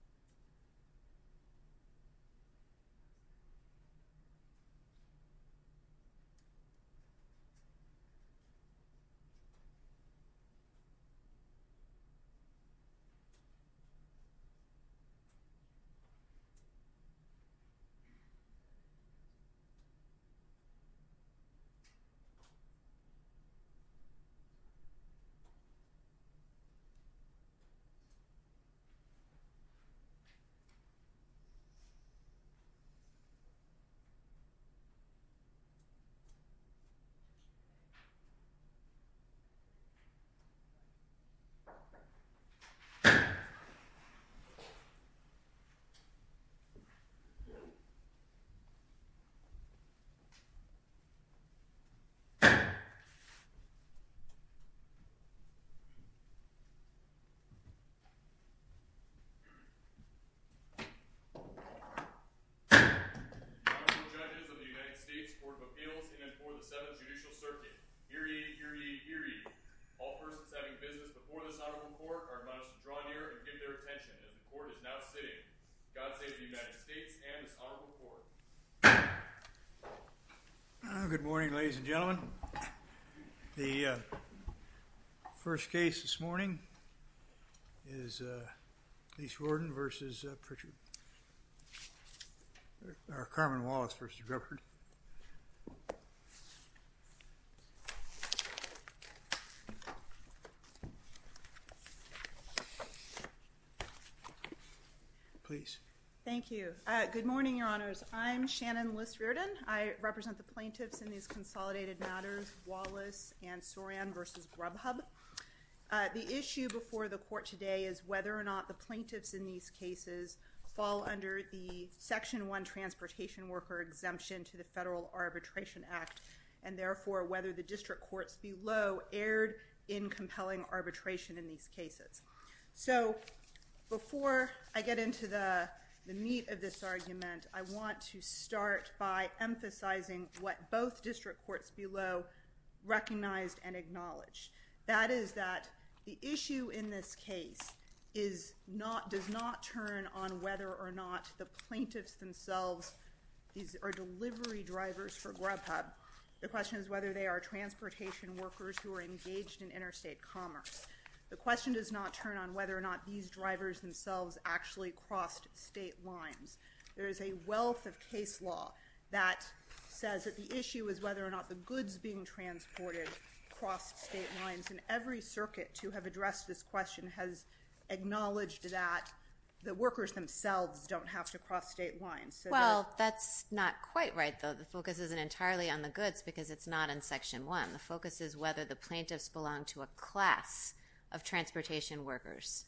This is a video of the Grubhub Holdings, Inc. website. The website is www.grubhub.com. The website is www.grubhub.com. The website is www.grubhub.com. The website is www.grubhub.com. The website is www.grubhub.com. The website is www.grubhub.com. The website is www.grubhub.com. The website is www.grubhub.com. The website is www.grubhub.com. Good morning, ladies and gentlemen. The first case this morning is Carman Wallace v. Rupert. Thank you. Good morning, Your Honors. I'm Shannon List Riordan. I represent the plaintiffs in these consolidated matters, Wallace and Soran v. Grubhub. The issue before the court today is whether or not the plaintiffs in these cases fall under the Section 1 Transportation Worker Exemption to the Federal Arbitration Act and, therefore, whether the district courts below erred in compelling arbitration in these cases. So, before I get into the meat of this argument, I want to start by emphasizing what both district courts below recognized and acknowledged. That is that the issue in this case does not turn on whether or not the plaintiffs themselves are delivery drivers for Grubhub. The question is whether they are transportation workers who are engaged in interstate commerce. The question does not turn on whether or not these drivers themselves actually crossed state lines. There is a wealth of case law that says that the issue is whether or not the goods being transported crossed state lines, and every circuit to have addressed this question has acknowledged that the workers themselves don't have to cross state lines. Well, that's not quite right, though. The focus isn't entirely on the goods because it's not in Section 1. The focus is whether the plaintiffs belong to a class of transportation workers.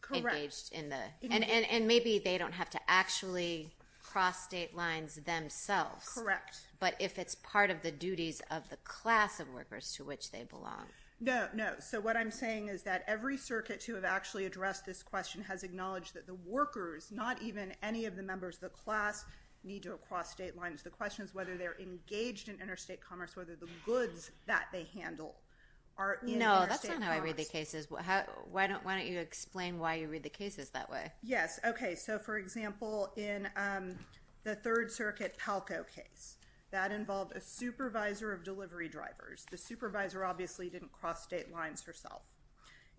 Correct. And maybe they don't have to actually cross state lines themselves. Correct. But if it's part of the duties of the class of workers to which they belong. No, no. So, what I'm saying is that every circuit to have actually addressed this question has acknowledged that the workers, not even any of the members of the class, need to cross state lines. The question is whether they're engaged in interstate commerce, whether the goods that they handle are in interstate commerce. No, that's not how I read the cases. Why don't you explain why you read the cases that way? Yes, okay. So, for example, in the Third Circuit Palco case, that involved a supervisor of delivery drivers. The supervisor obviously didn't cross state lines herself.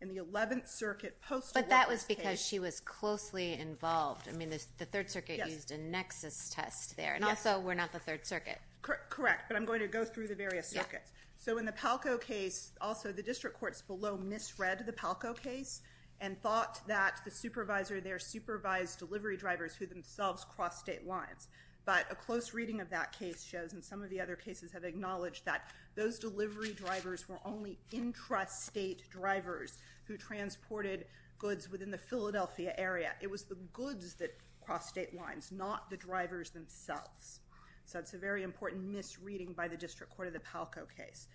In the Eleventh Circuit Postal Workers case. But that was because she was closely involved. I mean, the Third Circuit used a nexus test there. And also, we're not the Third Circuit. Correct. But I'm going to go through the various circuits. So, in the Palco case, also, the district courts below misread the Palco case. And thought that the supervisor there supervised delivery drivers who themselves crossed state lines. But a close reading of that case shows, and some of the other cases have acknowledged that, those delivery drivers were only intrastate drivers who transported goods within the Philadelphia area. It was the goods that crossed state lines, not the drivers themselves. So, it's a very important misreading by the district court of the Palco case.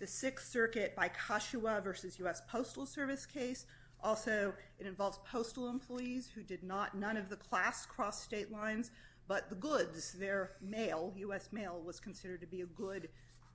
The Sixth Circuit by Kashiwa versus U.S. Postal Service case. Also, it involves postal employees who did not, none of the class crossed state lines. But the goods, their mail, U.S. mail, was considered to be a good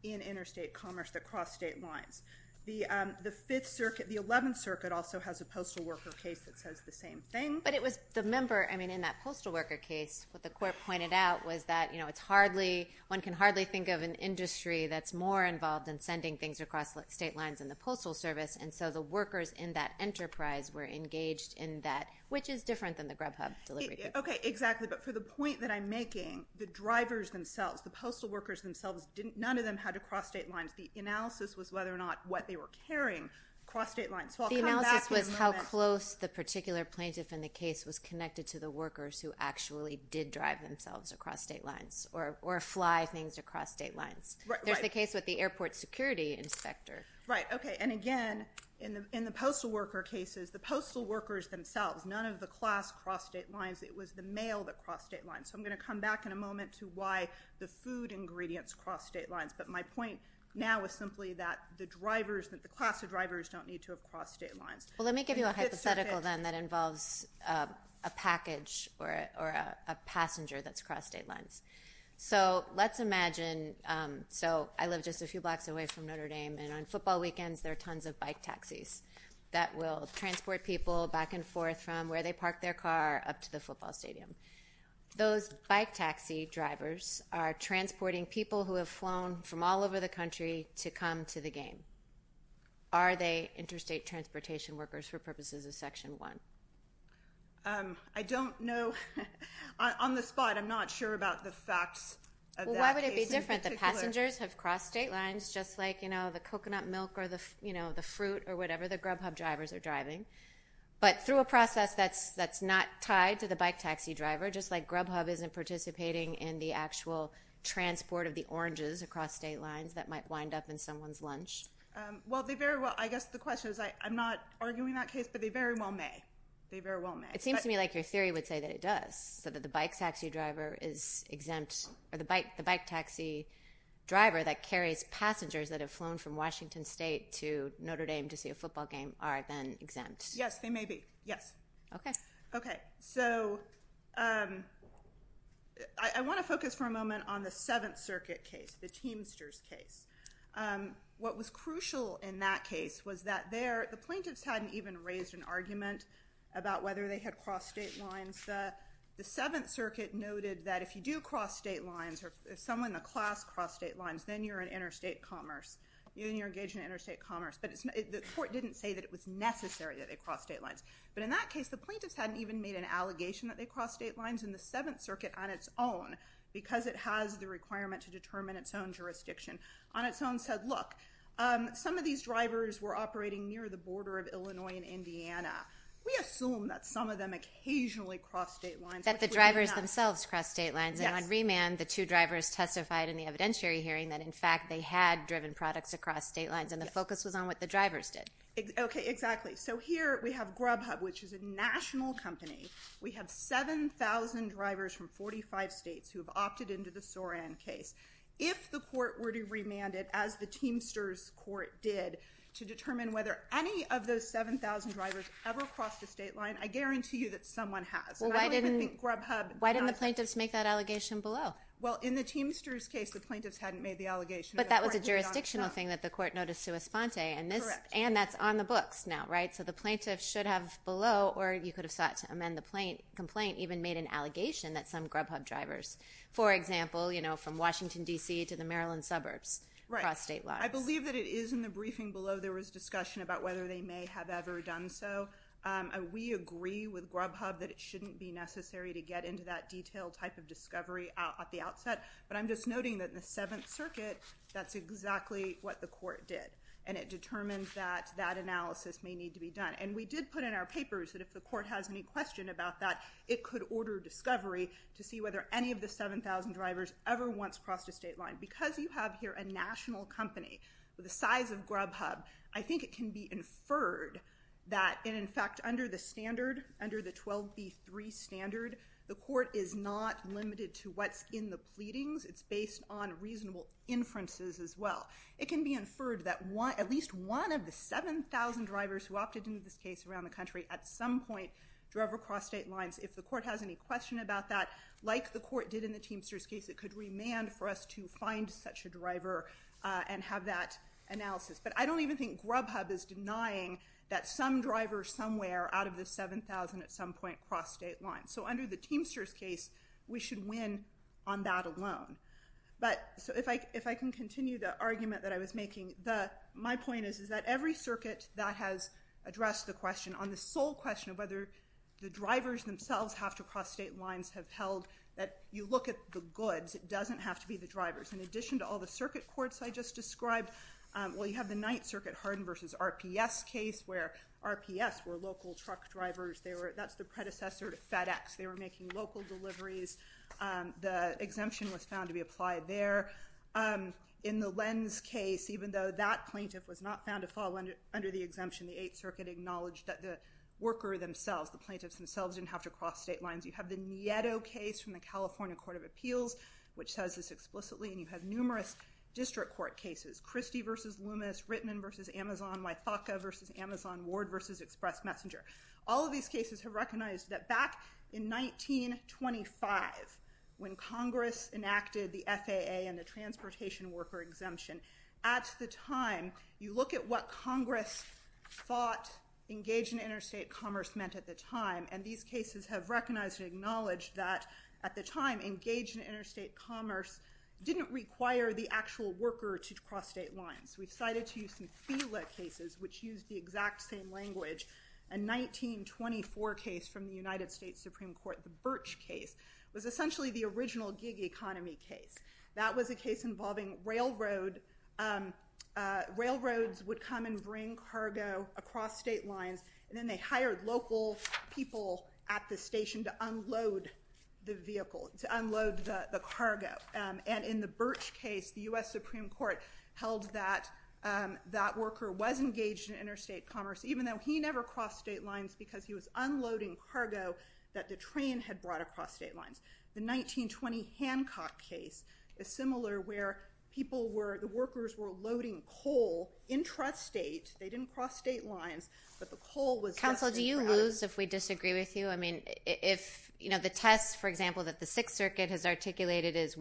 in interstate commerce that crossed state lines. The Fifth Circuit, the Eleventh Circuit also has a postal worker case that says the same thing. But it was the member, I mean, in that postal worker case, what the court pointed out was that, you know, it's hardly, one can hardly think of an industry that's more involved in sending things across state lines than the Postal Service. And so, the workers in that enterprise were engaged in that, which is different than the Grubhub delivery. Okay, exactly. But for the point that I'm making, the drivers themselves, the postal workers themselves, none of them had to cross state lines. The analysis was whether or not what they were carrying crossed state lines. So, I'll come back in a moment. The analysis was how close the particular plaintiff in the case was connected to the workers who actually did drive themselves across state lines or fly things across state lines. Right, right. There's the case with the airport security inspector. Right, okay. And again, in the postal worker cases, the postal workers themselves, none of the class crossed state lines. It was the mail that crossed state lines. So, I'm going to come back in a moment to why the food ingredients crossed state lines. But my point now is simply that the class of drivers don't need to have crossed state lines. Well, let me give you a hypothetical then that involves a package or a passenger that's crossed state lines. So, let's imagine I live just a few blocks away from Notre Dame, and on football weekends there are tons of bike taxis that will transport people back and forth from where they park their car up to the football stadium. Those bike taxi drivers are transporting people who have flown from all over the country to come to the game. Are they interstate transportation workers for purposes of Section 1? I don't know. On the spot, I'm not sure about the facts of that case in particular. Well, why would it be different? The passengers have crossed state lines just like, you know, the coconut milk or the, you know, the fruit or whatever the Grubhub drivers are driving. But through a process that's not tied to the bike taxi driver, just like Grubhub isn't participating in the actual transport of the oranges across state lines that might wind up in someone's lunch. Well, they very well, I guess the question is, I'm not arguing that case, but they very well may. They very well may. It seems to me like your theory would say that it does, so that the bike taxi driver is exempt or the bike taxi driver that carries passengers that have flown from Washington State to Notre Dame to see a football game are then exempt. Yes, they may be, yes. Okay. Okay. So I want to focus for a moment on the Seventh Circuit case, the Teamsters case. What was crucial in that case was that the plaintiffs hadn't even raised an argument about whether they had crossed state lines. The Seventh Circuit noted that if you do cross state lines or if someone in the class crossed state lines, then you're in interstate commerce, then you're engaged in interstate commerce. But the court didn't say that it was necessary that they cross state lines. But in that case, the plaintiffs hadn't even made an allegation that they crossed state lines. And the Seventh Circuit on its own, because it has the requirement to determine its own jurisdiction, on its own said, look, some of these drivers were operating near the border of Illinois and Indiana. We assume that some of them occasionally crossed state lines. That the drivers themselves crossed state lines. And on remand, the two drivers testified in the evidentiary hearing that, in fact, they had driven products across state lines, and the focus was on what the drivers did. Okay. Exactly. So here we have Grubhub, which is a national company. We have 7,000 drivers from 45 states who have opted into the Soran case. If the court were to remand it, as the Teamsters court did, to determine whether any of those 7,000 drivers ever crossed a state line, I guarantee you that someone has. Well, why didn't the plaintiffs make that allegation below? Well, in the Teamsters case, the plaintiffs hadn't made the allegation. But that was a jurisdictional thing that the court noticed to Esponte. Correct. And that's on the books now, right? So the plaintiffs should have below, or you could have sought to amend the complaint, even made an allegation that some Grubhub drivers, for example, you know, from Washington, D.C. to the Maryland suburbs crossed state lines. Right. I believe that it is in the briefing below there was discussion about whether they may have ever done so. We agree with Grubhub that it shouldn't be necessary to get into that detailed type of discovery at the outset. But I'm just noting that in the Seventh Circuit, that's exactly what the court did. And it determines that that analysis may need to be done. And we did put in our papers that if the court has any question about that, it could order discovery to see whether any of the 7,000 drivers ever once crossed a state line. Because you have here a national company the size of Grubhub, I think it can be inferred that, and in fact, under the standard, under the 12B3 standard, the court is not limited to what's in the pleadings. It's based on reasonable inferences as well. It can be inferred that at least one of the 7,000 drivers who opted into this case around the country at some point drove across state lines. If the court has any question about that, like the court did in the Teamsters case, it could remand for us to find such a driver and have that analysis. But I don't even think Grubhub is denying that some driver somewhere out of the 7,000 at some point crossed state lines. So under the Teamsters case, we should win on that alone. But if I can continue the argument that I was making, my point is that every circuit that has addressed the question on the sole question of whether the drivers themselves have to cross state lines have held that you look at the goods. It doesn't have to be the drivers. In addition to all the circuit courts I just described, well, you have the Ninth Circuit Hardin v. RPS case where RPS were local truck drivers. That's the predecessor to FedEx. They were making local deliveries. The exemption was found to be applied there. In the Lenz case, even though that plaintiff was not found to fall under the exemption, the Eighth Circuit acknowledged that the worker themselves, the plaintiffs themselves, didn't have to cross state lines. You have the Nieto case from the California Court of Appeals, which says this explicitly, and you have numerous district court cases, Christie v. Loomis, Rittman v. Amazon, Wythaka v. Amazon, Ward v. Express Messenger. All of these cases have recognized that back in 1925, when Congress enacted the FAA and the transportation worker exemption, at the time, you look at what Congress thought engaged in interstate commerce meant at the time, and these cases have recognized and acknowledged that, at the time, engaged in interstate commerce didn't require the actual worker to cross state lines. We've cited to you some FILA cases, which use the exact same language. A 1924 case from the United States Supreme Court, the Birch case, was essentially the original gig economy case. That was a case involving railroads would come and bring cargo across state lines, and then they hired local people at the station to unload the vehicle, to unload the cargo. And in the Birch case, the U.S. Supreme Court held that that worker was engaged in interstate commerce, even though he never crossed state lines, because he was unloading cargo that the train had brought across state lines. The 1920 Hancock case is similar, where the workers were loading coal intrastate. They didn't cross state lines, but the coal was just being brought in. Counsel, do you lose, if we disagree with you, I mean, if, you know, the test, for example, that the Sixth Circuit has articulated is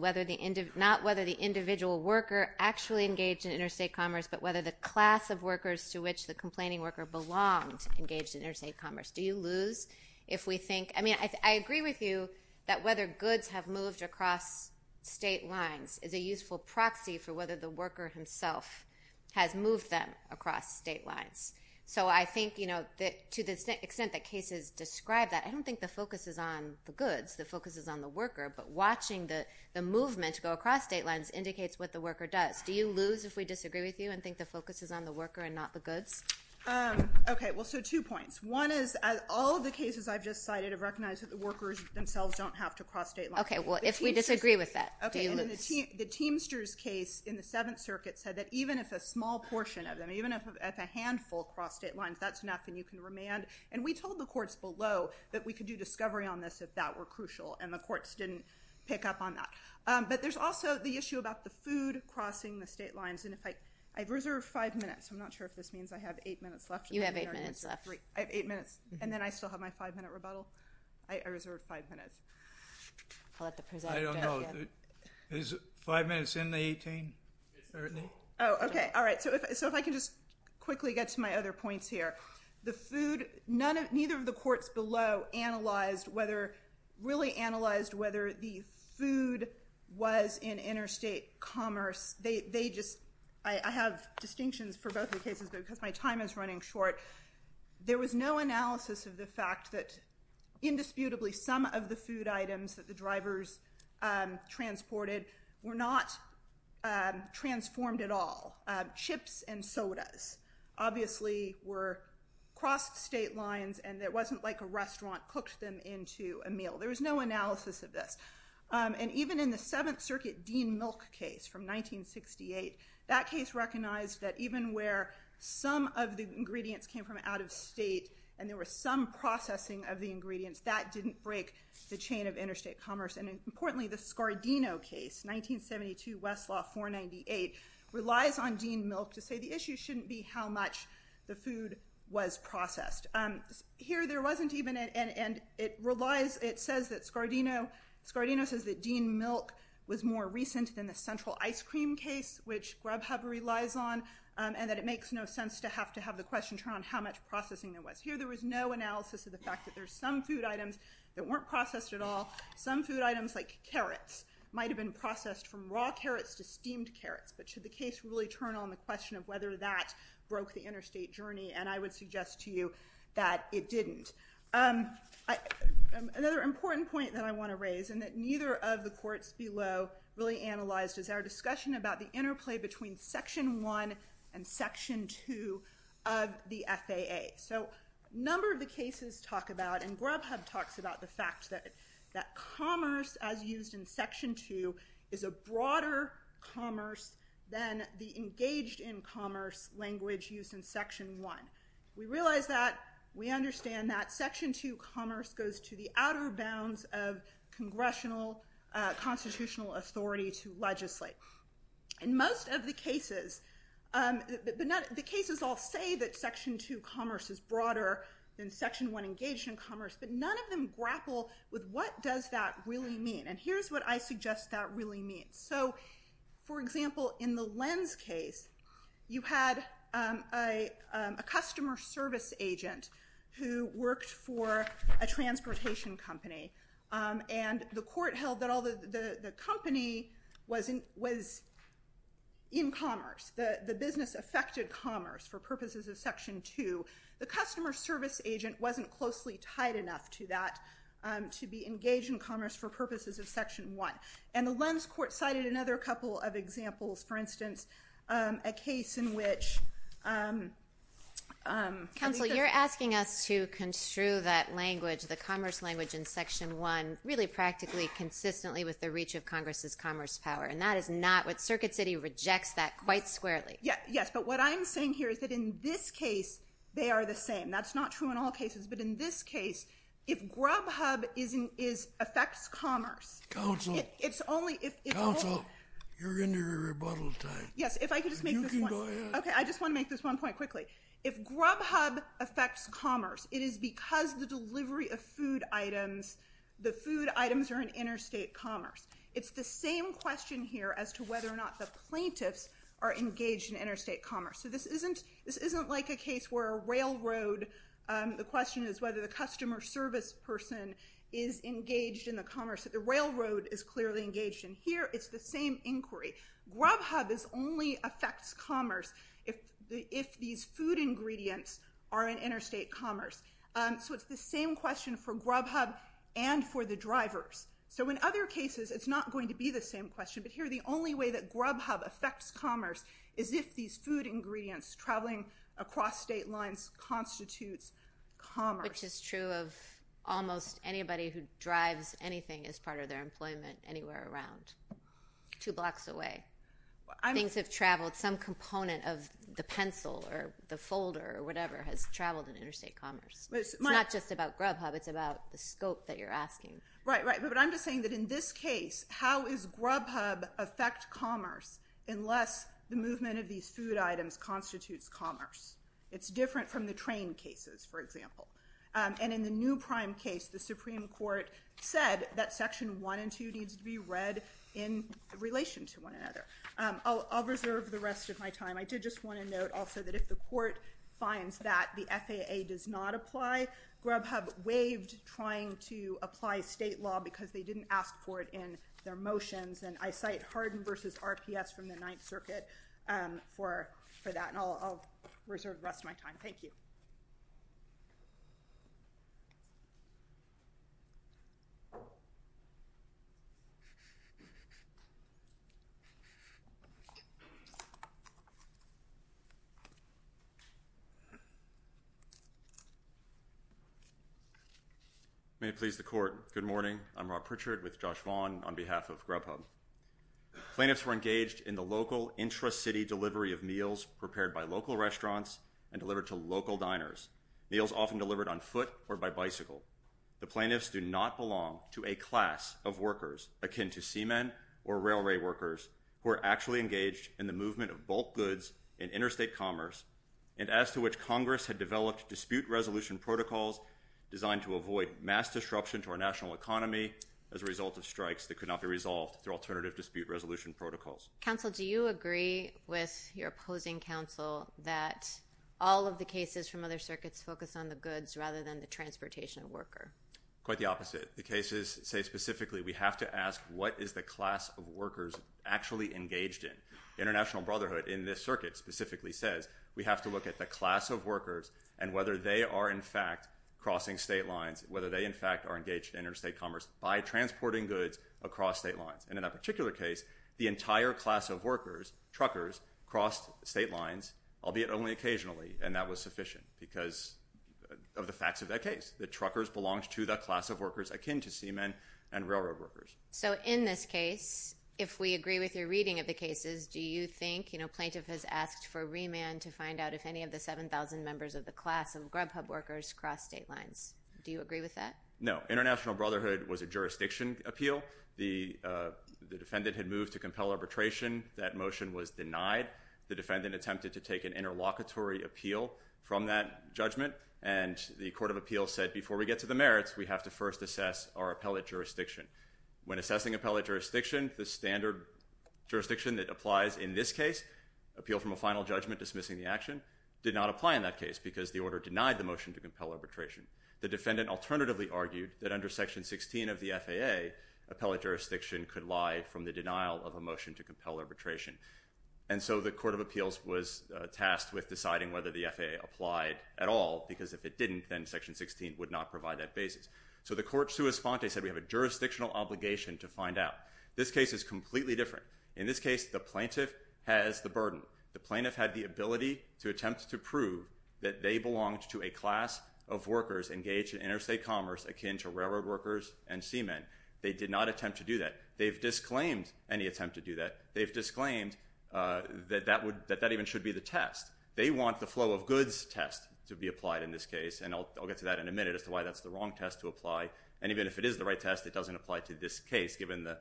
not whether the individual worker actually engaged in interstate commerce, but whether the class of workers to which the complaining worker belonged engaged in interstate commerce. Do you lose, if we think? I mean, I agree with you that whether goods have moved across state lines is a useful proxy for whether the worker himself has moved them across state lines. So, I think, you know, to the extent that cases describe that, I don't think the focus is on the goods, the focus is on the worker, but watching the movement go across state lines indicates what the worker does. Do you lose, if we disagree with you, and think the focus is on the worker and not the goods? Okay, well, so two points. One is, all of the cases I've just cited have recognized that the workers themselves don't have to cross state lines. Okay, well, if we disagree with that, do you lose? And the Teamsters case in the Seventh Circuit said that even if a small portion of them, even if a handful cross state lines, that's enough, and you can remand. And we told the courts below that we could do discovery on this if that were crucial, and the courts didn't pick up on that. But there's also the issue about the food crossing the state lines. And if I—I've reserved five minutes. I'm not sure if this means I have eight minutes left. You have eight minutes left. I have eight minutes, and then I still have my five-minute rebuttal? I reserved five minutes. I'll let the presenter— I don't know. Is five minutes in the 18? Oh, okay. All right. So if I can just quickly get to my other points here. The food, none of—neither of the courts below analyzed whether—really analyzed whether the food was in interstate commerce. They just—I have distinctions for both the cases, but because my time is running short, there was no analysis of the fact that indisputably some of the food items that the drivers transported were not transformed at all. Chips and sodas, obviously, were—crossed state lines, and it wasn't like a restaurant cooked them into a meal. There was no analysis of this. And even in the Seventh Circuit Dean Milk case from 1968, that case recognized that even where some of the ingredients came from out of state and there was some processing of the ingredients, that didn't break the chain of interstate commerce. And importantly, the Scardino case, 1972, Westlaw 498, relies on Dean Milk to say the issue shouldn't be how much the food was processed. Here, there wasn't even an—and it relies—it says that Scardino—Scardino says that Dean which Grubhub relies on, and that it makes no sense to have to have the question turn on how much processing there was. Here, there was no analysis of the fact that there's some food items that weren't processed at all. Some food items, like carrots, might have been processed from raw carrots to steamed carrots. But should the case really turn on the question of whether that broke the interstate journey? And I would suggest to you that it didn't. Another important point that I want to raise, and that neither of the courts below really raised, is the discussion about the interplay between Section 1 and Section 2 of the FAA. So, a number of the cases talk about—and Grubhub talks about the fact that commerce, as used in Section 2, is a broader commerce than the engaged in commerce language used in Section 1. We realize that. We understand that. Section 2 commerce goes to the outer bounds of congressional constitutional authority to legislate. In most of the cases—the cases all say that Section 2 commerce is broader than Section 1 engaged in commerce, but none of them grapple with what does that really mean. And here's what I suggest that really means. So, for example, in the Lenz case, you had a customer service agent who worked for a transportation company. And the court held that although the company was in commerce, the business affected commerce for purposes of Section 2, the customer service agent wasn't closely tied enough to that to be engaged in commerce for purposes of Section 1. And the Lenz court cited another couple of examples. For instance, a case in which— Counsel, you're asking us to construe that language, the commerce language in Section 1, really practically consistently with the reach of Congress' commerce power. And that is not what—Circuit City rejects that quite squarely. Yes, but what I'm saying here is that in this case, they are the same. That's not true in all cases. But in this case, if Grubhub affects commerce— Counsel. It's only— Counsel, you're in your rebuttal time. Yes, if I could just make this one— You can go ahead. Okay, I just want to make this one point quickly. If Grubhub affects commerce, it is because the delivery of food items, the food items are in interstate commerce. It's the same question here as to whether or not the plaintiffs are engaged in interstate commerce. So this isn't like a case where a railroad—the question is whether the customer service person is engaged in the commerce that the railroad is clearly engaged in. Here, it's the same inquiry. Grubhub only affects commerce if these food ingredients are in interstate commerce. So it's the same question for Grubhub and for the drivers. So in other cases, it's not going to be the same question. But here, the only way that Grubhub affects commerce is if these food ingredients traveling across state lines constitutes commerce. Which is true of almost anybody who drives anything as part of their employment anywhere around two blocks away. Things have traveled. Some component of the pencil or the folder or whatever has traveled in interstate commerce. It's not just about Grubhub. It's about the scope that you're asking. Right, right. But I'm just saying that in this case, how does Grubhub affect commerce unless the movement of these food items constitutes commerce? It's different from the train cases, for example. And in the new prime case, the Supreme Court said that Section 1 and 2 needs to be read in relation to one another. I'll reserve the rest of my time. I did just want to note also that if the court finds that the FAA does not apply, Grubhub waived trying to apply state law because they didn't ask for it in their motions. And I cite Hardin v. RPS from the Ninth Circuit for that. And I'll reserve the rest of my time. Thank you. Thank you. May it please the court. Good morning. I'm Rob Pritchard with Josh Vaughn on behalf of Grubhub. Plaintiffs were engaged in the local intra-city delivery of meals prepared by local restaurants and delivered to local diners. Meals often delivered on foot or by bicycle. The plaintiffs do not belong to a class of workers akin to seamen or railway workers who are actually engaged in the movement of bulk goods in interstate commerce and as to which Congress had developed dispute resolution protocols designed to avoid mass disruption to our national economy as a result of strikes that could not be resolved through alternative dispute resolution protocols. Counsel, do you agree with your opposing counsel that all of the cases from other circuits focus on the goods rather than the transportation of worker? Quite the opposite. The cases say specifically we have to ask what is the class of workers actually engaged in. International Brotherhood in this circuit specifically says we have to look at the class of workers and whether they are in fact crossing state lines, whether they in fact are engaged in interstate commerce by transporting goods across state lines. And in that particular case, the entire class of workers, truckers, crossed state lines albeit only occasionally and that was sufficient because of the facts of that case. The truckers belonged to the class of workers akin to seamen and railroad workers. So in this case, if we agree with your reading of the cases, do you think plaintiff has asked for remand to find out if any of the 7,000 members of the class of Grubhub workers crossed state lines? Do you agree with that? No. International Brotherhood was a jurisdiction appeal. The defendant had moved to compel arbitration. That motion was denied. The defendant attempted to take an interlocutory appeal from that judgment and the court of appeal said before we get to the merits, we have to first assess our appellate jurisdiction. When assessing appellate jurisdiction, the standard jurisdiction that applies in this case, appeal from a final judgment dismissing the action, did not apply in that case because the order denied the motion to compel arbitration. The defendant alternatively argued that under section 16 of the FAA, appellate jurisdiction could lie from the denial of a motion to compel arbitration. And so the court of appeals was tasked with deciding whether the FAA applied at all because if it didn't, then section 16 would not provide that basis. So the court sui sponte said we have a jurisdictional obligation to find out. This case is completely different. In this case, the plaintiff has the burden. The plaintiff had the ability to attempt to prove that they belonged to a class of workers engaged in interstate commerce akin to railroad workers and seamen. They did not attempt to do that. They've disclaimed any attempt to do that. They've disclaimed that that even should be the test. They want the flow of goods test to be applied in this case, and I'll get to that in a minute as to why that's the wrong test to apply. And even if it is the right test, it doesn't apply to this case given the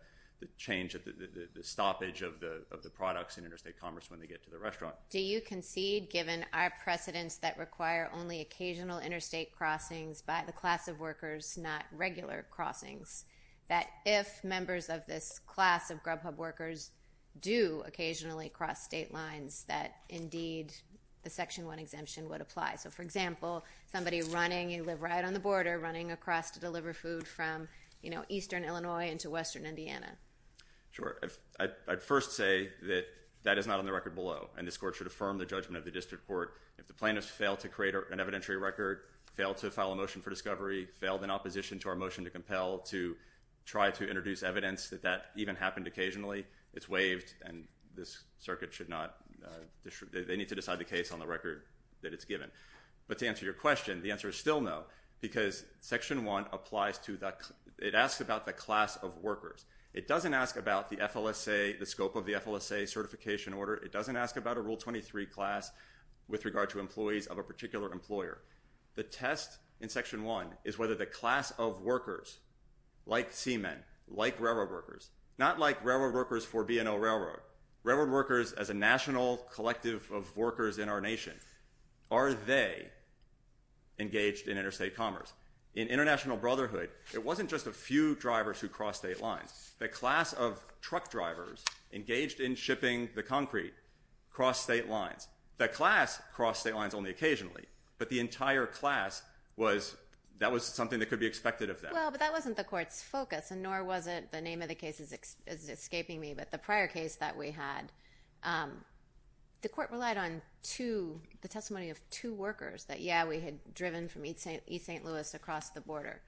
change of the products in interstate commerce when they get to the restaurant. Do you concede, given our precedents that require only occasional interstate crossings by the class of workers, not regular crossings, that if members of this class of Grubhub workers do occasionally cross state lines, that indeed the section 1 exemption would apply? So, for example, somebody running, you live right on the border, running across to deliver food from, you know, eastern Illinois into western Indiana. Sure. I'd first say that that is not on the record below, and this court should affirm the judgment of the district court. If the plaintiffs fail to create an evidentiary record, fail to file a motion for discovery, failed in opposition to our motion to compel to try to introduce evidence that that even happened occasionally, it's waived, and this circuit should not, they need to decide the case on the record that it's given. But to answer your question, the answer is still no, because section 1 applies to the, it asks about the class of workers. It doesn't ask about the FLSA, the scope of the FLSA certification order. It doesn't ask about a Rule 23 class with regard to employees of a particular employer. The test in section 1 is whether the class of workers, like seamen, like railroad workers, not like railroad workers for B&O Railroad, railroad workers as a national collective of workers in our nation, are they engaged in interstate commerce? In international brotherhood, it wasn't just a few drivers who crossed state lines. The class of truck drivers engaged in shipping the concrete crossed state lines. The class crossed state lines only occasionally, but the entire class was, that was something that could be expected of them. Well, but that wasn't the court's focus, and nor was it, the name of the case is escaping me, but the prior case that we had, the court relied on two, the testimony of two workers that, yeah, we had driven from East St. Louis across the border.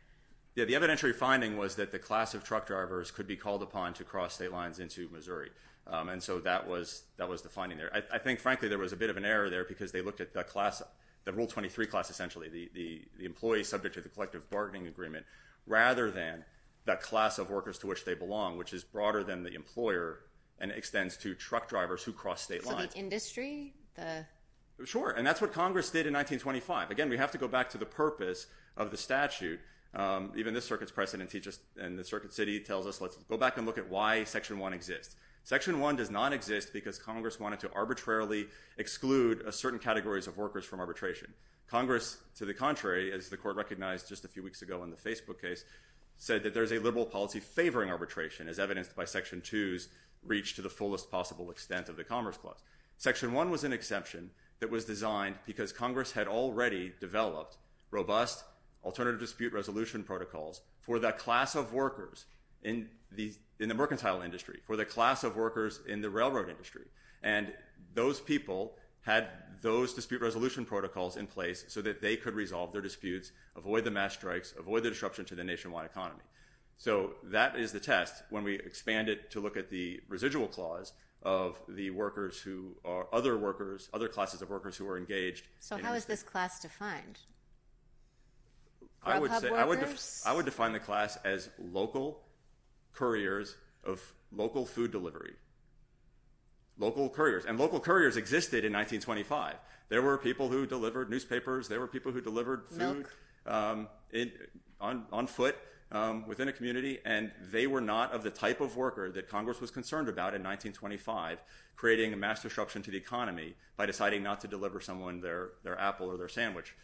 Yeah, the evidentiary finding was that the class of truck drivers could be called upon to cross state lines into Missouri, and so that was the finding there. I think, frankly, there was a bit of an error there because they looked at the class, the Rule 23 class essentially, the employees subject to the collective bargaining agreement rather than the class of workers to which they belong, which is broader than the employer and extends to truck drivers who cross state lines. So the industry, the... Sure, and that's what Congress did in 1925. Again, we have to go back to the purpose of the statute. Even this circuit's precedent teaches, and the Circuit City tells us, let's go back and look at why Section 1 exists. Section 1 does not exist because Congress wanted to arbitrarily exclude certain categories of workers from arbitration. Congress, to the contrary, as the court recognized just a few weeks ago in the Facebook case, said that there's a liberal policy favoring arbitration as evidenced by Section 2's reach to the fullest possible extent of the Commerce Clause. Section 1 was an exception that was designed because Congress had already developed robust alternative dispute resolution protocols for the class of workers in the mercantile industry, for the class of workers in the railroad industry. And those people had those dispute resolution protocols in place so that they could resolve their disputes, avoid the mass strikes, avoid the disruption to the nationwide economy. So that is the test when we expand it to look at the residual clause of the workers who are other workers, other classes of workers who are engaged. So how is this class defined? I would define the class as local couriers of local food delivery. Local couriers. And local couriers existed in 1925. There were people who delivered newspapers. There were people who delivered food on foot. Within a community. And they were not of the type of worker that Congress was concerned about in 1925, creating a mass disruption to the economy by deciding not to deliver someone their apple or their sandwich.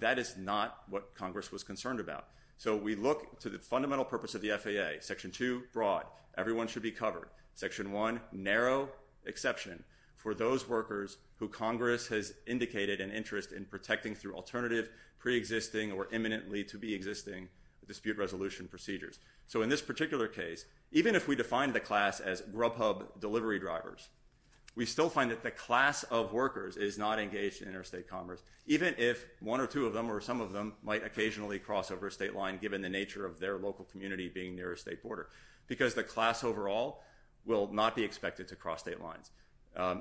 That is not what Congress was concerned about. So we look to the fundamental purpose of the FAA. Section 2, broad. Everyone should be covered. Section 1, narrow exception for those workers who Congress has indicated an interest in So in this particular case, even if we define the class as grub hub delivery drivers, we still find that the class of workers is not engaged in interstate commerce, even if one or two of them or some of them might occasionally cross over a state line given the nature of their local community being near a state border. Because the class overall will not be expected to cross state lines.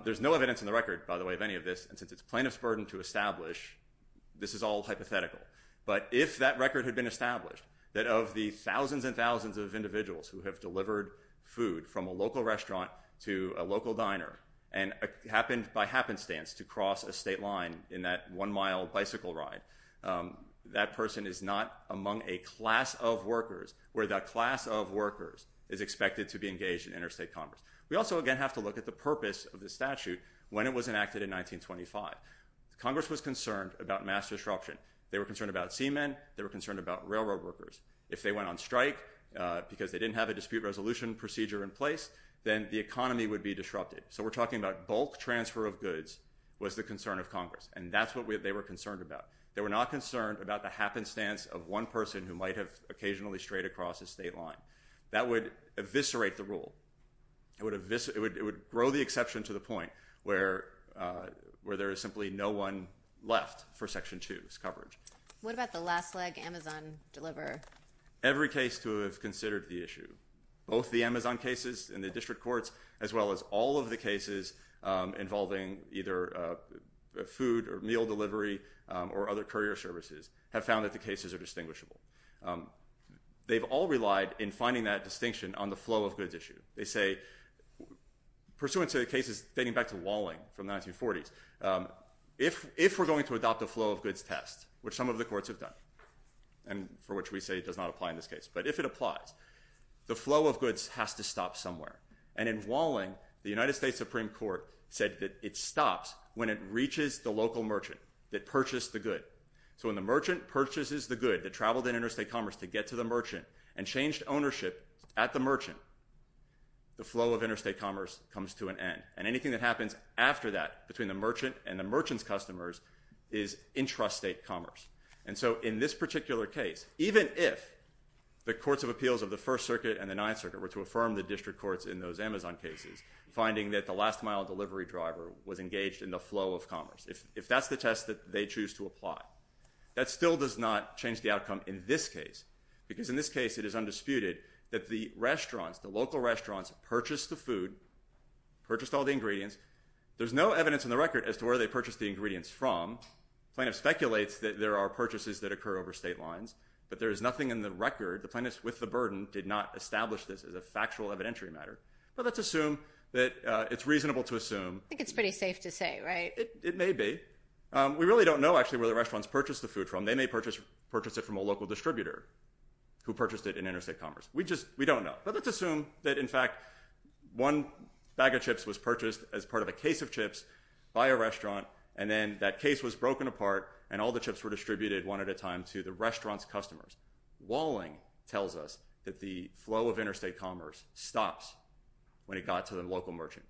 There's no evidence in the record, by the way, of any of this. And since it's plaintiff's burden to establish, this is all hypothetical. But if that record had been established, that of the thousands and thousands of individuals who have delivered food from a local restaurant to a local diner and happened by happenstance to cross a state line in that one-mile bicycle ride, that person is not among a class of workers where that class of workers is expected to be engaged in interstate commerce. We also, again, have to look at the purpose of the statute when it was enacted in 1925. Congress was concerned about mass disruption. They were concerned about seamen. They were concerned about railroad workers. If they went on strike because they didn't have a dispute resolution procedure in place, then the economy would be disrupted. So we're talking about bulk transfer of goods was the concern of Congress, and that's what they were concerned about. They were not concerned about the happenstance of one person who might have occasionally strayed across a state line. That would eviscerate the rule. It would grow the exception to the point where there is simply no one left for Section 2. What about the last leg, Amazon Deliver? Every case to have considered the issue, both the Amazon cases in the district courts as well as all of the cases involving either food or meal delivery or other courier services have found that the cases are distinguishable. They've all relied in finding that distinction on the flow of goods issue. They say, pursuant to the cases dating back to Walling from the 1940s, if we're going to adopt a flow of goods test, which some of the courts have done and for which we say it does not apply in this case, but if it applies, the flow of goods has to stop somewhere. In Walling, the United States Supreme Court said that it stops when it reaches the local merchant that purchased the good. So when the merchant purchases the good that traveled in interstate commerce to get to the merchant and changed ownership at the merchant, the flow of interstate commerce comes to an end. And anything that happens after that between the merchant and the merchant's customers is intrastate commerce. And so in this particular case, even if the courts of appeals of the First Circuit and the Ninth Circuit were to affirm the district courts in those Amazon cases, finding that the last mile delivery driver was engaged in the flow of commerce, if that's the test that they choose to apply, that still does not change the outcome in this case because in this case it is undisputed that the restaurants, the local restaurants purchased the food, purchased all the ingredients. There's no evidence in the record as to where they purchased the ingredients from. The plaintiff speculates that there are purchases that occur over state lines, but there is nothing in the record. The plaintiff, with the burden, did not establish this as a factual evidentiary matter. But let's assume that it's reasonable to assume. I think it's pretty safe to say, right? It may be. We really don't know actually where the restaurants purchased the food from. They may purchase it from a local distributor who purchased it in interstate commerce. We just don't know. But let's assume that, in fact, one bag of chips was purchased as part of a case of chips by a restaurant, and then that case was broken apart, and all the chips were distributed one at a time to the restaurant's customers. Walling tells us that the flow of interstate commerce stops when it got to the local merchant.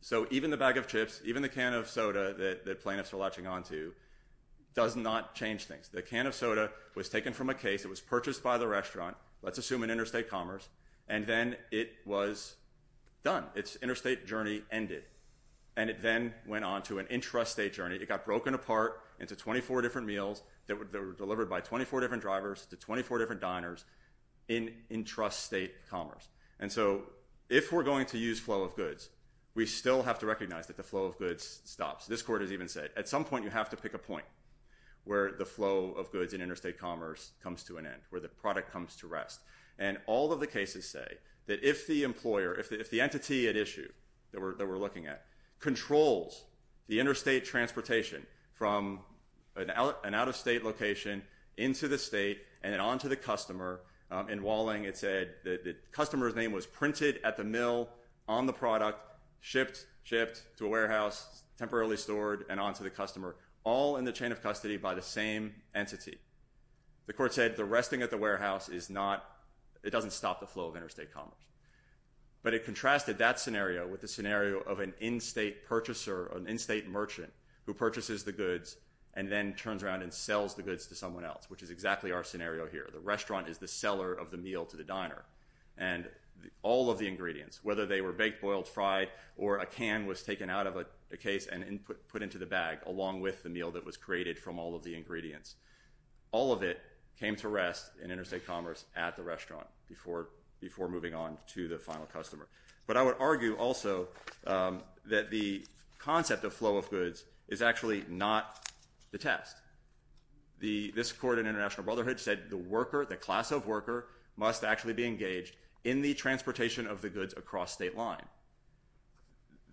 So even the bag of chips, even the can of soda that the plaintiffs are latching onto does not change things. The can of soda was taken from a case. It was purchased by the restaurant. Let's assume in interstate commerce. And then it was done. Its interstate journey ended, and it then went on to an intrastate journey. It got broken apart into 24 different meals that were delivered by 24 different drivers to 24 different diners in intrastate commerce. And so if we're going to use flow of goods, we still have to recognize that the flow of goods stops. This court has even said at some point you have to pick a point where the flow of goods in interstate commerce comes to an end, where the product comes to rest. And all of the cases say that if the employer, if the entity at issue that we're looking at, controls the interstate transportation from an out-of-state location into the state and then onto the customer, in Walling it said the customer's name was printed at the mill on the product, shipped to a warehouse, temporarily stored, and onto the customer, all in the chain of custody by the same entity. The court said the resting at the warehouse is not, it doesn't stop the flow of interstate commerce. But it contrasted that scenario with the scenario of an in-state purchaser, an in-state merchant who purchases the goods and then turns around and sells the goods to someone else, which is exactly our scenario here. The restaurant is the seller of the meal to the diner. Or a can was taken out of a case and put into the bag along with the meal that was created from all of the ingredients. All of it came to rest in interstate commerce at the restaurant before moving on to the final customer. But I would argue also that the concept of flow of goods is actually not the test. This court in International Brotherhood said the worker, the class of worker, must actually be engaged in the transportation of the goods across state line.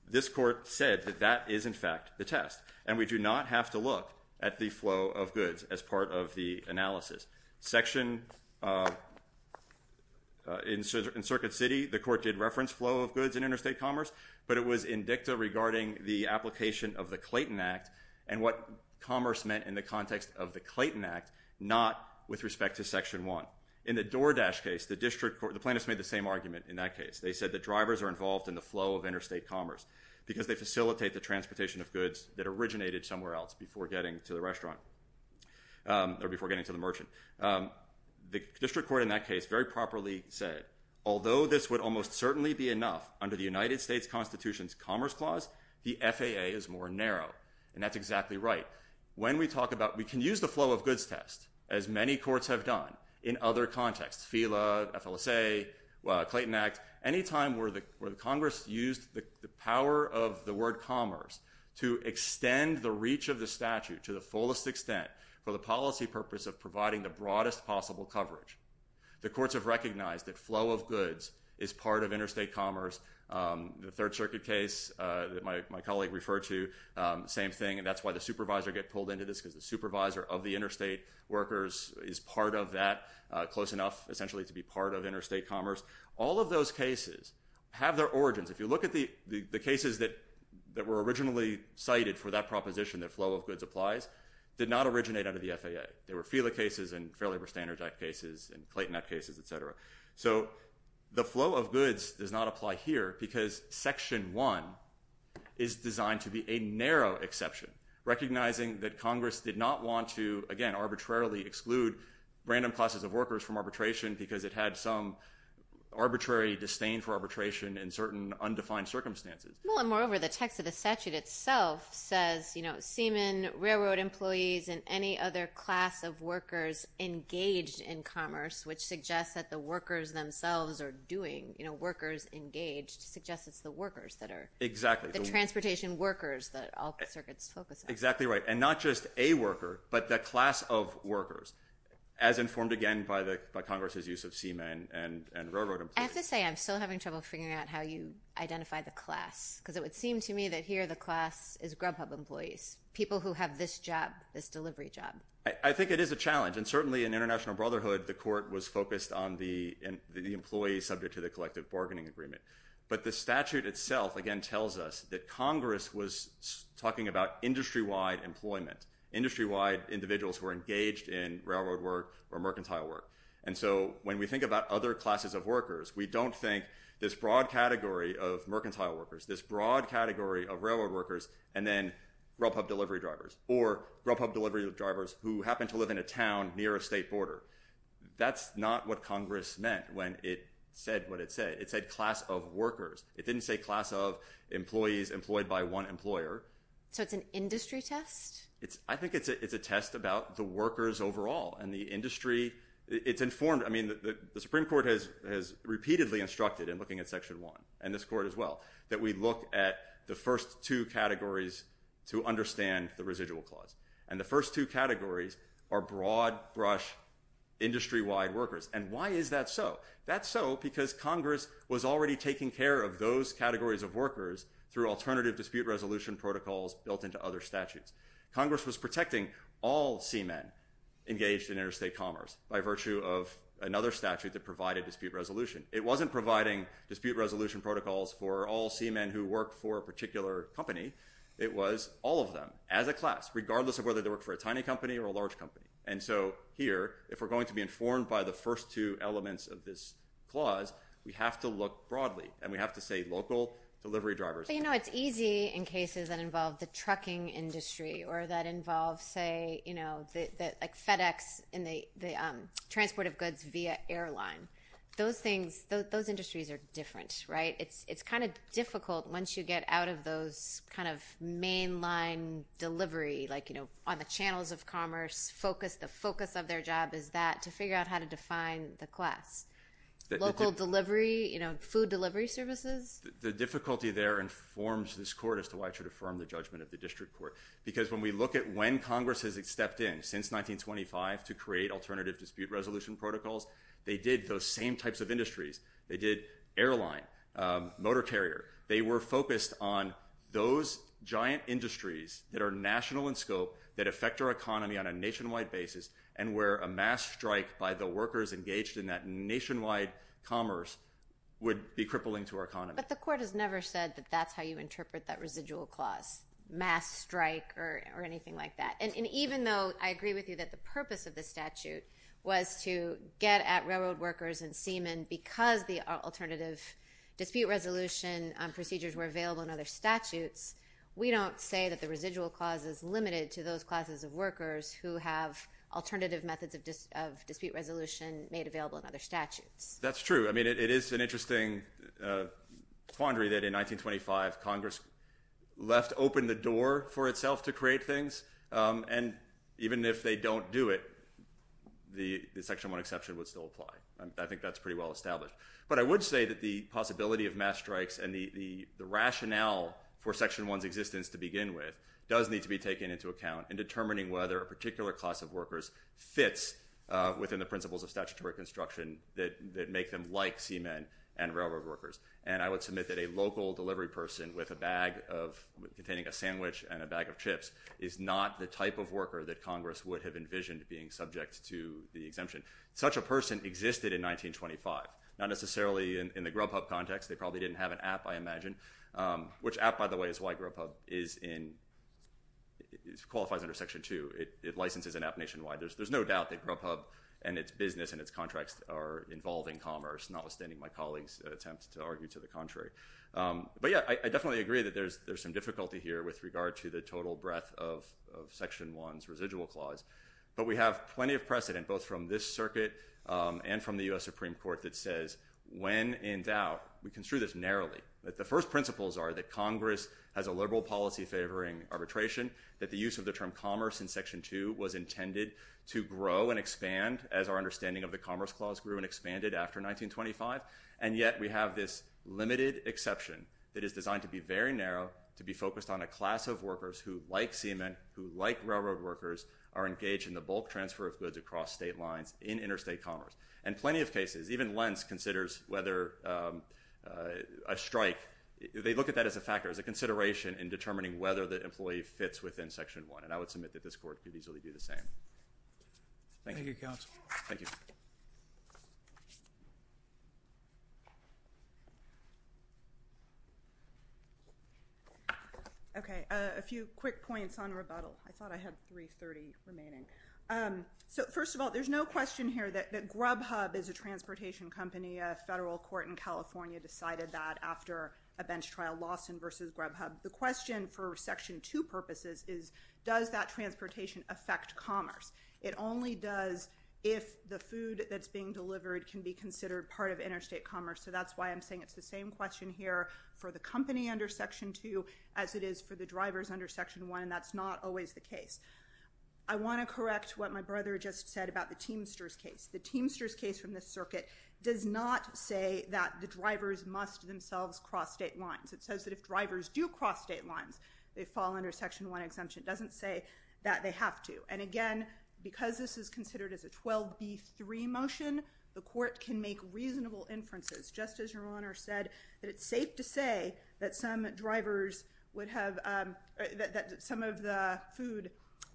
This court said that that is, in fact, the test. And we do not have to look at the flow of goods as part of the analysis. Section, in Circuit City, the court did reference flow of goods in interstate commerce, but it was in dicta regarding the application of the Clayton Act and what commerce meant in the context of the Clayton Act, not with respect to Section 1. In the DoorDash case, the plaintiffs made the same argument in that case. They said that drivers are involved in the flow of interstate commerce because they facilitate the transportation of goods that originated somewhere else before getting to the merchant. The district court in that case very properly said, although this would almost certainly be enough under the United States Constitution's Commerce Clause, the FAA is more narrow. And that's exactly right. We can use the flow of goods test, as many courts have done in other contexts, FELA, FLSA, Clayton Act, any time where Congress used the power of the word commerce to extend the reach of the statute to the fullest extent for the policy purpose of providing the broadest possible coverage. The courts have recognized that flow of goods is part of interstate commerce. The Third Circuit case that my colleague referred to, same thing. And that's why the supervisor gets pulled into this because the supervisor of the interstate workers is part of that, close enough essentially to be part of interstate commerce. All of those cases have their origins. If you look at the cases that were originally cited for that proposition that flow of goods applies, did not originate under the FAA. There were FELA cases and Fair Labor Standards Act cases and Clayton Act cases, et cetera. So the flow of goods does not apply here because Section 1 is designed to be a narrow exception, recognizing that Congress did not want to, again, arbitrarily exclude random classes of workers from arbitration because it had some arbitrary disdain for arbitration in certain undefined circumstances. Well, and moreover, the text of the statute itself says, you know, seamen, railroad employees, and any other class of workers engaged in commerce, which suggests that the workers themselves are doing, you know, workers engaged, which suggests it's the workers that are the transportation workers that all circuits focus on. Exactly right. And not just a worker, but the class of workers, as informed, again, by Congress's use of seamen and railroad employees. I have to say I'm still having trouble figuring out how you identify the class because it would seem to me that here the class is Grubhub employees, people who have this job, this delivery job. I think it is a challenge, and certainly in International Brotherhood, the court was focused on the employee subject to the collective bargaining agreement, but the statute itself, again, tells us that Congress was talking about industry-wide employment, industry-wide individuals who are engaged in railroad work or mercantile work. And so when we think about other classes of workers, we don't think this broad category of mercantile workers, this broad category of railroad workers, and then Grubhub delivery drivers, or Grubhub delivery drivers who happen to live in a town near a state border. That's not what Congress meant when it said what it said. It said class of workers. It didn't say class of employees employed by one employer. So it's an industry test? I think it's a test about the workers overall and the industry. It's informed. I mean, the Supreme Court has repeatedly instructed in looking at Section 1, and this court as well, that we look at the first two categories to understand the residual clause. And the first two categories are broad-brush, industry-wide workers. And why is that so? That's so because Congress was already taking care of those categories of workers through alternative dispute resolution protocols built into other statutes. Congress was protecting all seamen engaged in interstate commerce by virtue of another statute that provided dispute resolution. It wasn't providing dispute resolution protocols for all seamen who worked for a particular company. It was all of them as a class, regardless of whether they worked for a tiny company or a large company. And so here, if we're going to be informed by the first two elements of this clause, we have to look broadly, and we have to say local delivery drivers. You know, it's easy in cases that involve the trucking industry or that involve, say, like FedEx in the transport of goods via airline. Those industries are different, right? It's kind of difficult once you get out of those kind of mainline delivery, like, you know, on the channels of commerce, the focus of their job is that, to figure out how to define the class. Local delivery, you know, food delivery services. The difficulty there informs this court as to why it should affirm the judgment of the district court because when we look at when Congress has stepped in since 1925 to create alternative dispute resolution protocols, they did those same types of industries. They did airline, motor carrier. They were focused on those giant industries that are national in scope, that affect our economy on a nationwide basis, and where a mass strike by the workers engaged in that nationwide commerce would be crippling to our economy. But the court has never said that that's how you interpret that residual clause, mass strike or anything like that. And even though I agree with you that the purpose of the statute was to get at railroad workers and seamen because the alternative dispute resolution procedures were available in other statutes, we don't say that the residual clause is limited to those classes of workers who have alternative methods of dispute resolution made available in other statutes. That's true. I mean, it is an interesting quandary that in 1925, Congress left open the door for itself to create things, and even if they don't do it, the Section 1 exception would still apply. I think that's pretty well established. But I would say that the possibility of mass strikes and the rationale for Section 1's existence to begin with does need to be taken into account in determining whether a particular class of workers fits within the principles of statutory construction that make them like seamen and railroad workers. And I would submit that a local delivery person with a bag containing a sandwich and a bag of chips is not the type of worker that Congress would have envisioned being subject to the exemption. Such a person existed in 1925. Not necessarily in the Grubhub context. They probably didn't have an app, I imagine, which app, by the way, is why Grubhub qualifies under Section 2. It licenses an app nationwide. There's no doubt that Grubhub and its business and its contracts are involving commerce, notwithstanding my colleague's attempt to argue to the contrary. But, yeah, I definitely agree that there's some difficulty here with regard to the total breadth of Section 1's residual clause. But we have plenty of precedent, both from this circuit and from the U.S. Supreme Court, that says when in doubt, we construe this narrowly, that the first principles are that Congress has a liberal policy favoring arbitration, that the use of the term commerce in Section 2 was intended to grow and expand as our understanding of the commerce clause grew and expanded after 1925, and yet we have this limited exception that is designed to be very narrow, to be focused on a class of workers who like semen, who like railroad workers, are engaged in the bulk transfer of goods across state lines in interstate commerce. And plenty of cases, even Lentz considers whether a strike, they look at that as a factor, as a consideration in determining whether the employee fits within Section 1. And I would submit that this Court could easily do the same. Thank you. Thank you, Counsel. Thank you. Okay, a few quick points on rebuttal. I thought I had 3.30 remaining. So first of all, there's no question here that Grubhub is a transportation company. A federal court in California decided that after a bench trial, Lawson v. Grubhub. The question for Section 2 purposes is, does that transportation affect commerce? It only does if the food that's being delivered can be considered part of interstate commerce. So that's why I'm saying it's the same question here for the company under Section 2 as it is for the drivers under Section 1, and that's not always the case. I want to correct what my brother just said about the Teamsters case. The Teamsters case from this circuit does not say that the drivers must themselves cross state lines. It says that if drivers do cross state lines, they fall under Section 1 exemption. It doesn't say that they have to. And again, because this is considered as a 12B3 motion, the Court can make reasonable inferences. Just as your Honor said, that it's safe to say that some of the food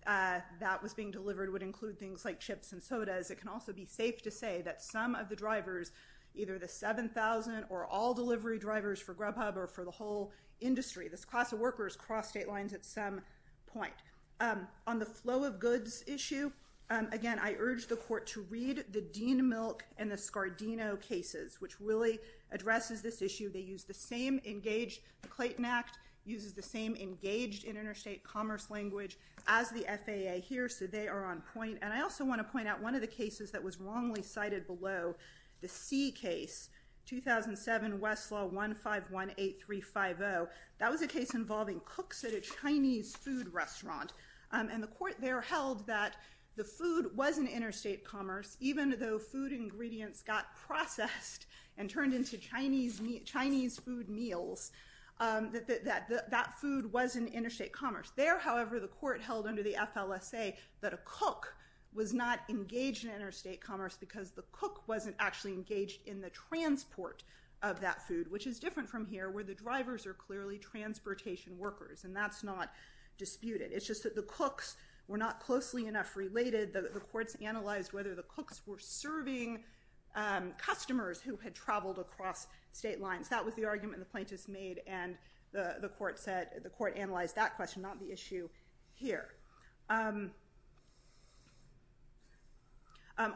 that was being delivered would include things like chips and sodas. It can also be safe to say that some of the drivers, either the 7,000 or all delivery drivers for Grubhub or for the whole industry, this class of workers cross state lines at some point. On the flow of goods issue, again, I urge the Court to read the Dean Milk and the Scardino cases, which really addresses this issue. They use the same engaged, the Clayton Act uses the same engaged interstate commerce language as the FAA here, so they are on point. And I also want to point out one of the cases that was wrongly cited below, the C case, 2007 Westlaw 1518350. That was a case involving cooks at a Chinese food restaurant. And the Court there held that the food was an interstate commerce, even though food ingredients got processed and turned into Chinese food meals, that that food was an interstate commerce. There, however, the Court held under the FLSA that a cook was not engaged in interstate commerce because the cook wasn't actually engaged in the transport of that food, which is different from here where the drivers are clearly transportation workers, and that's not disputed. It's just that the cooks were not closely enough related. The Courts analyzed whether the cooks were serving customers who had traveled across state lines. That was the argument the plaintiffs made, and the Court analyzed that question, not the issue here.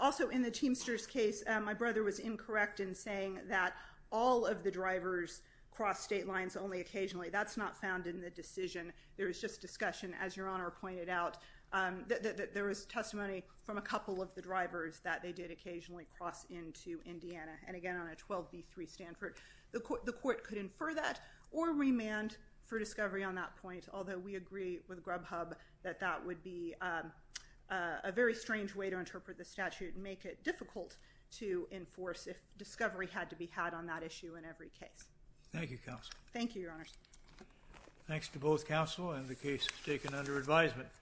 Also, in the Teamsters case, my brother was incorrect in saying that all of the drivers cross state lines only occasionally. That's not found in the decision. There was just discussion, as Your Honor pointed out. There was testimony from a couple of the drivers that they did occasionally cross into Indiana, and again on a 12b3 Stanford. The Court could infer that or remand for discovery on that point, although we agree with Grubhub that that would be a very strange way to interpret the statute and make it difficult to enforce if discovery had to be had on that issue in every case. Thank you, Counsel. Thank you, Your Honor. Thanks to both Counsel and the case is taken under advisement.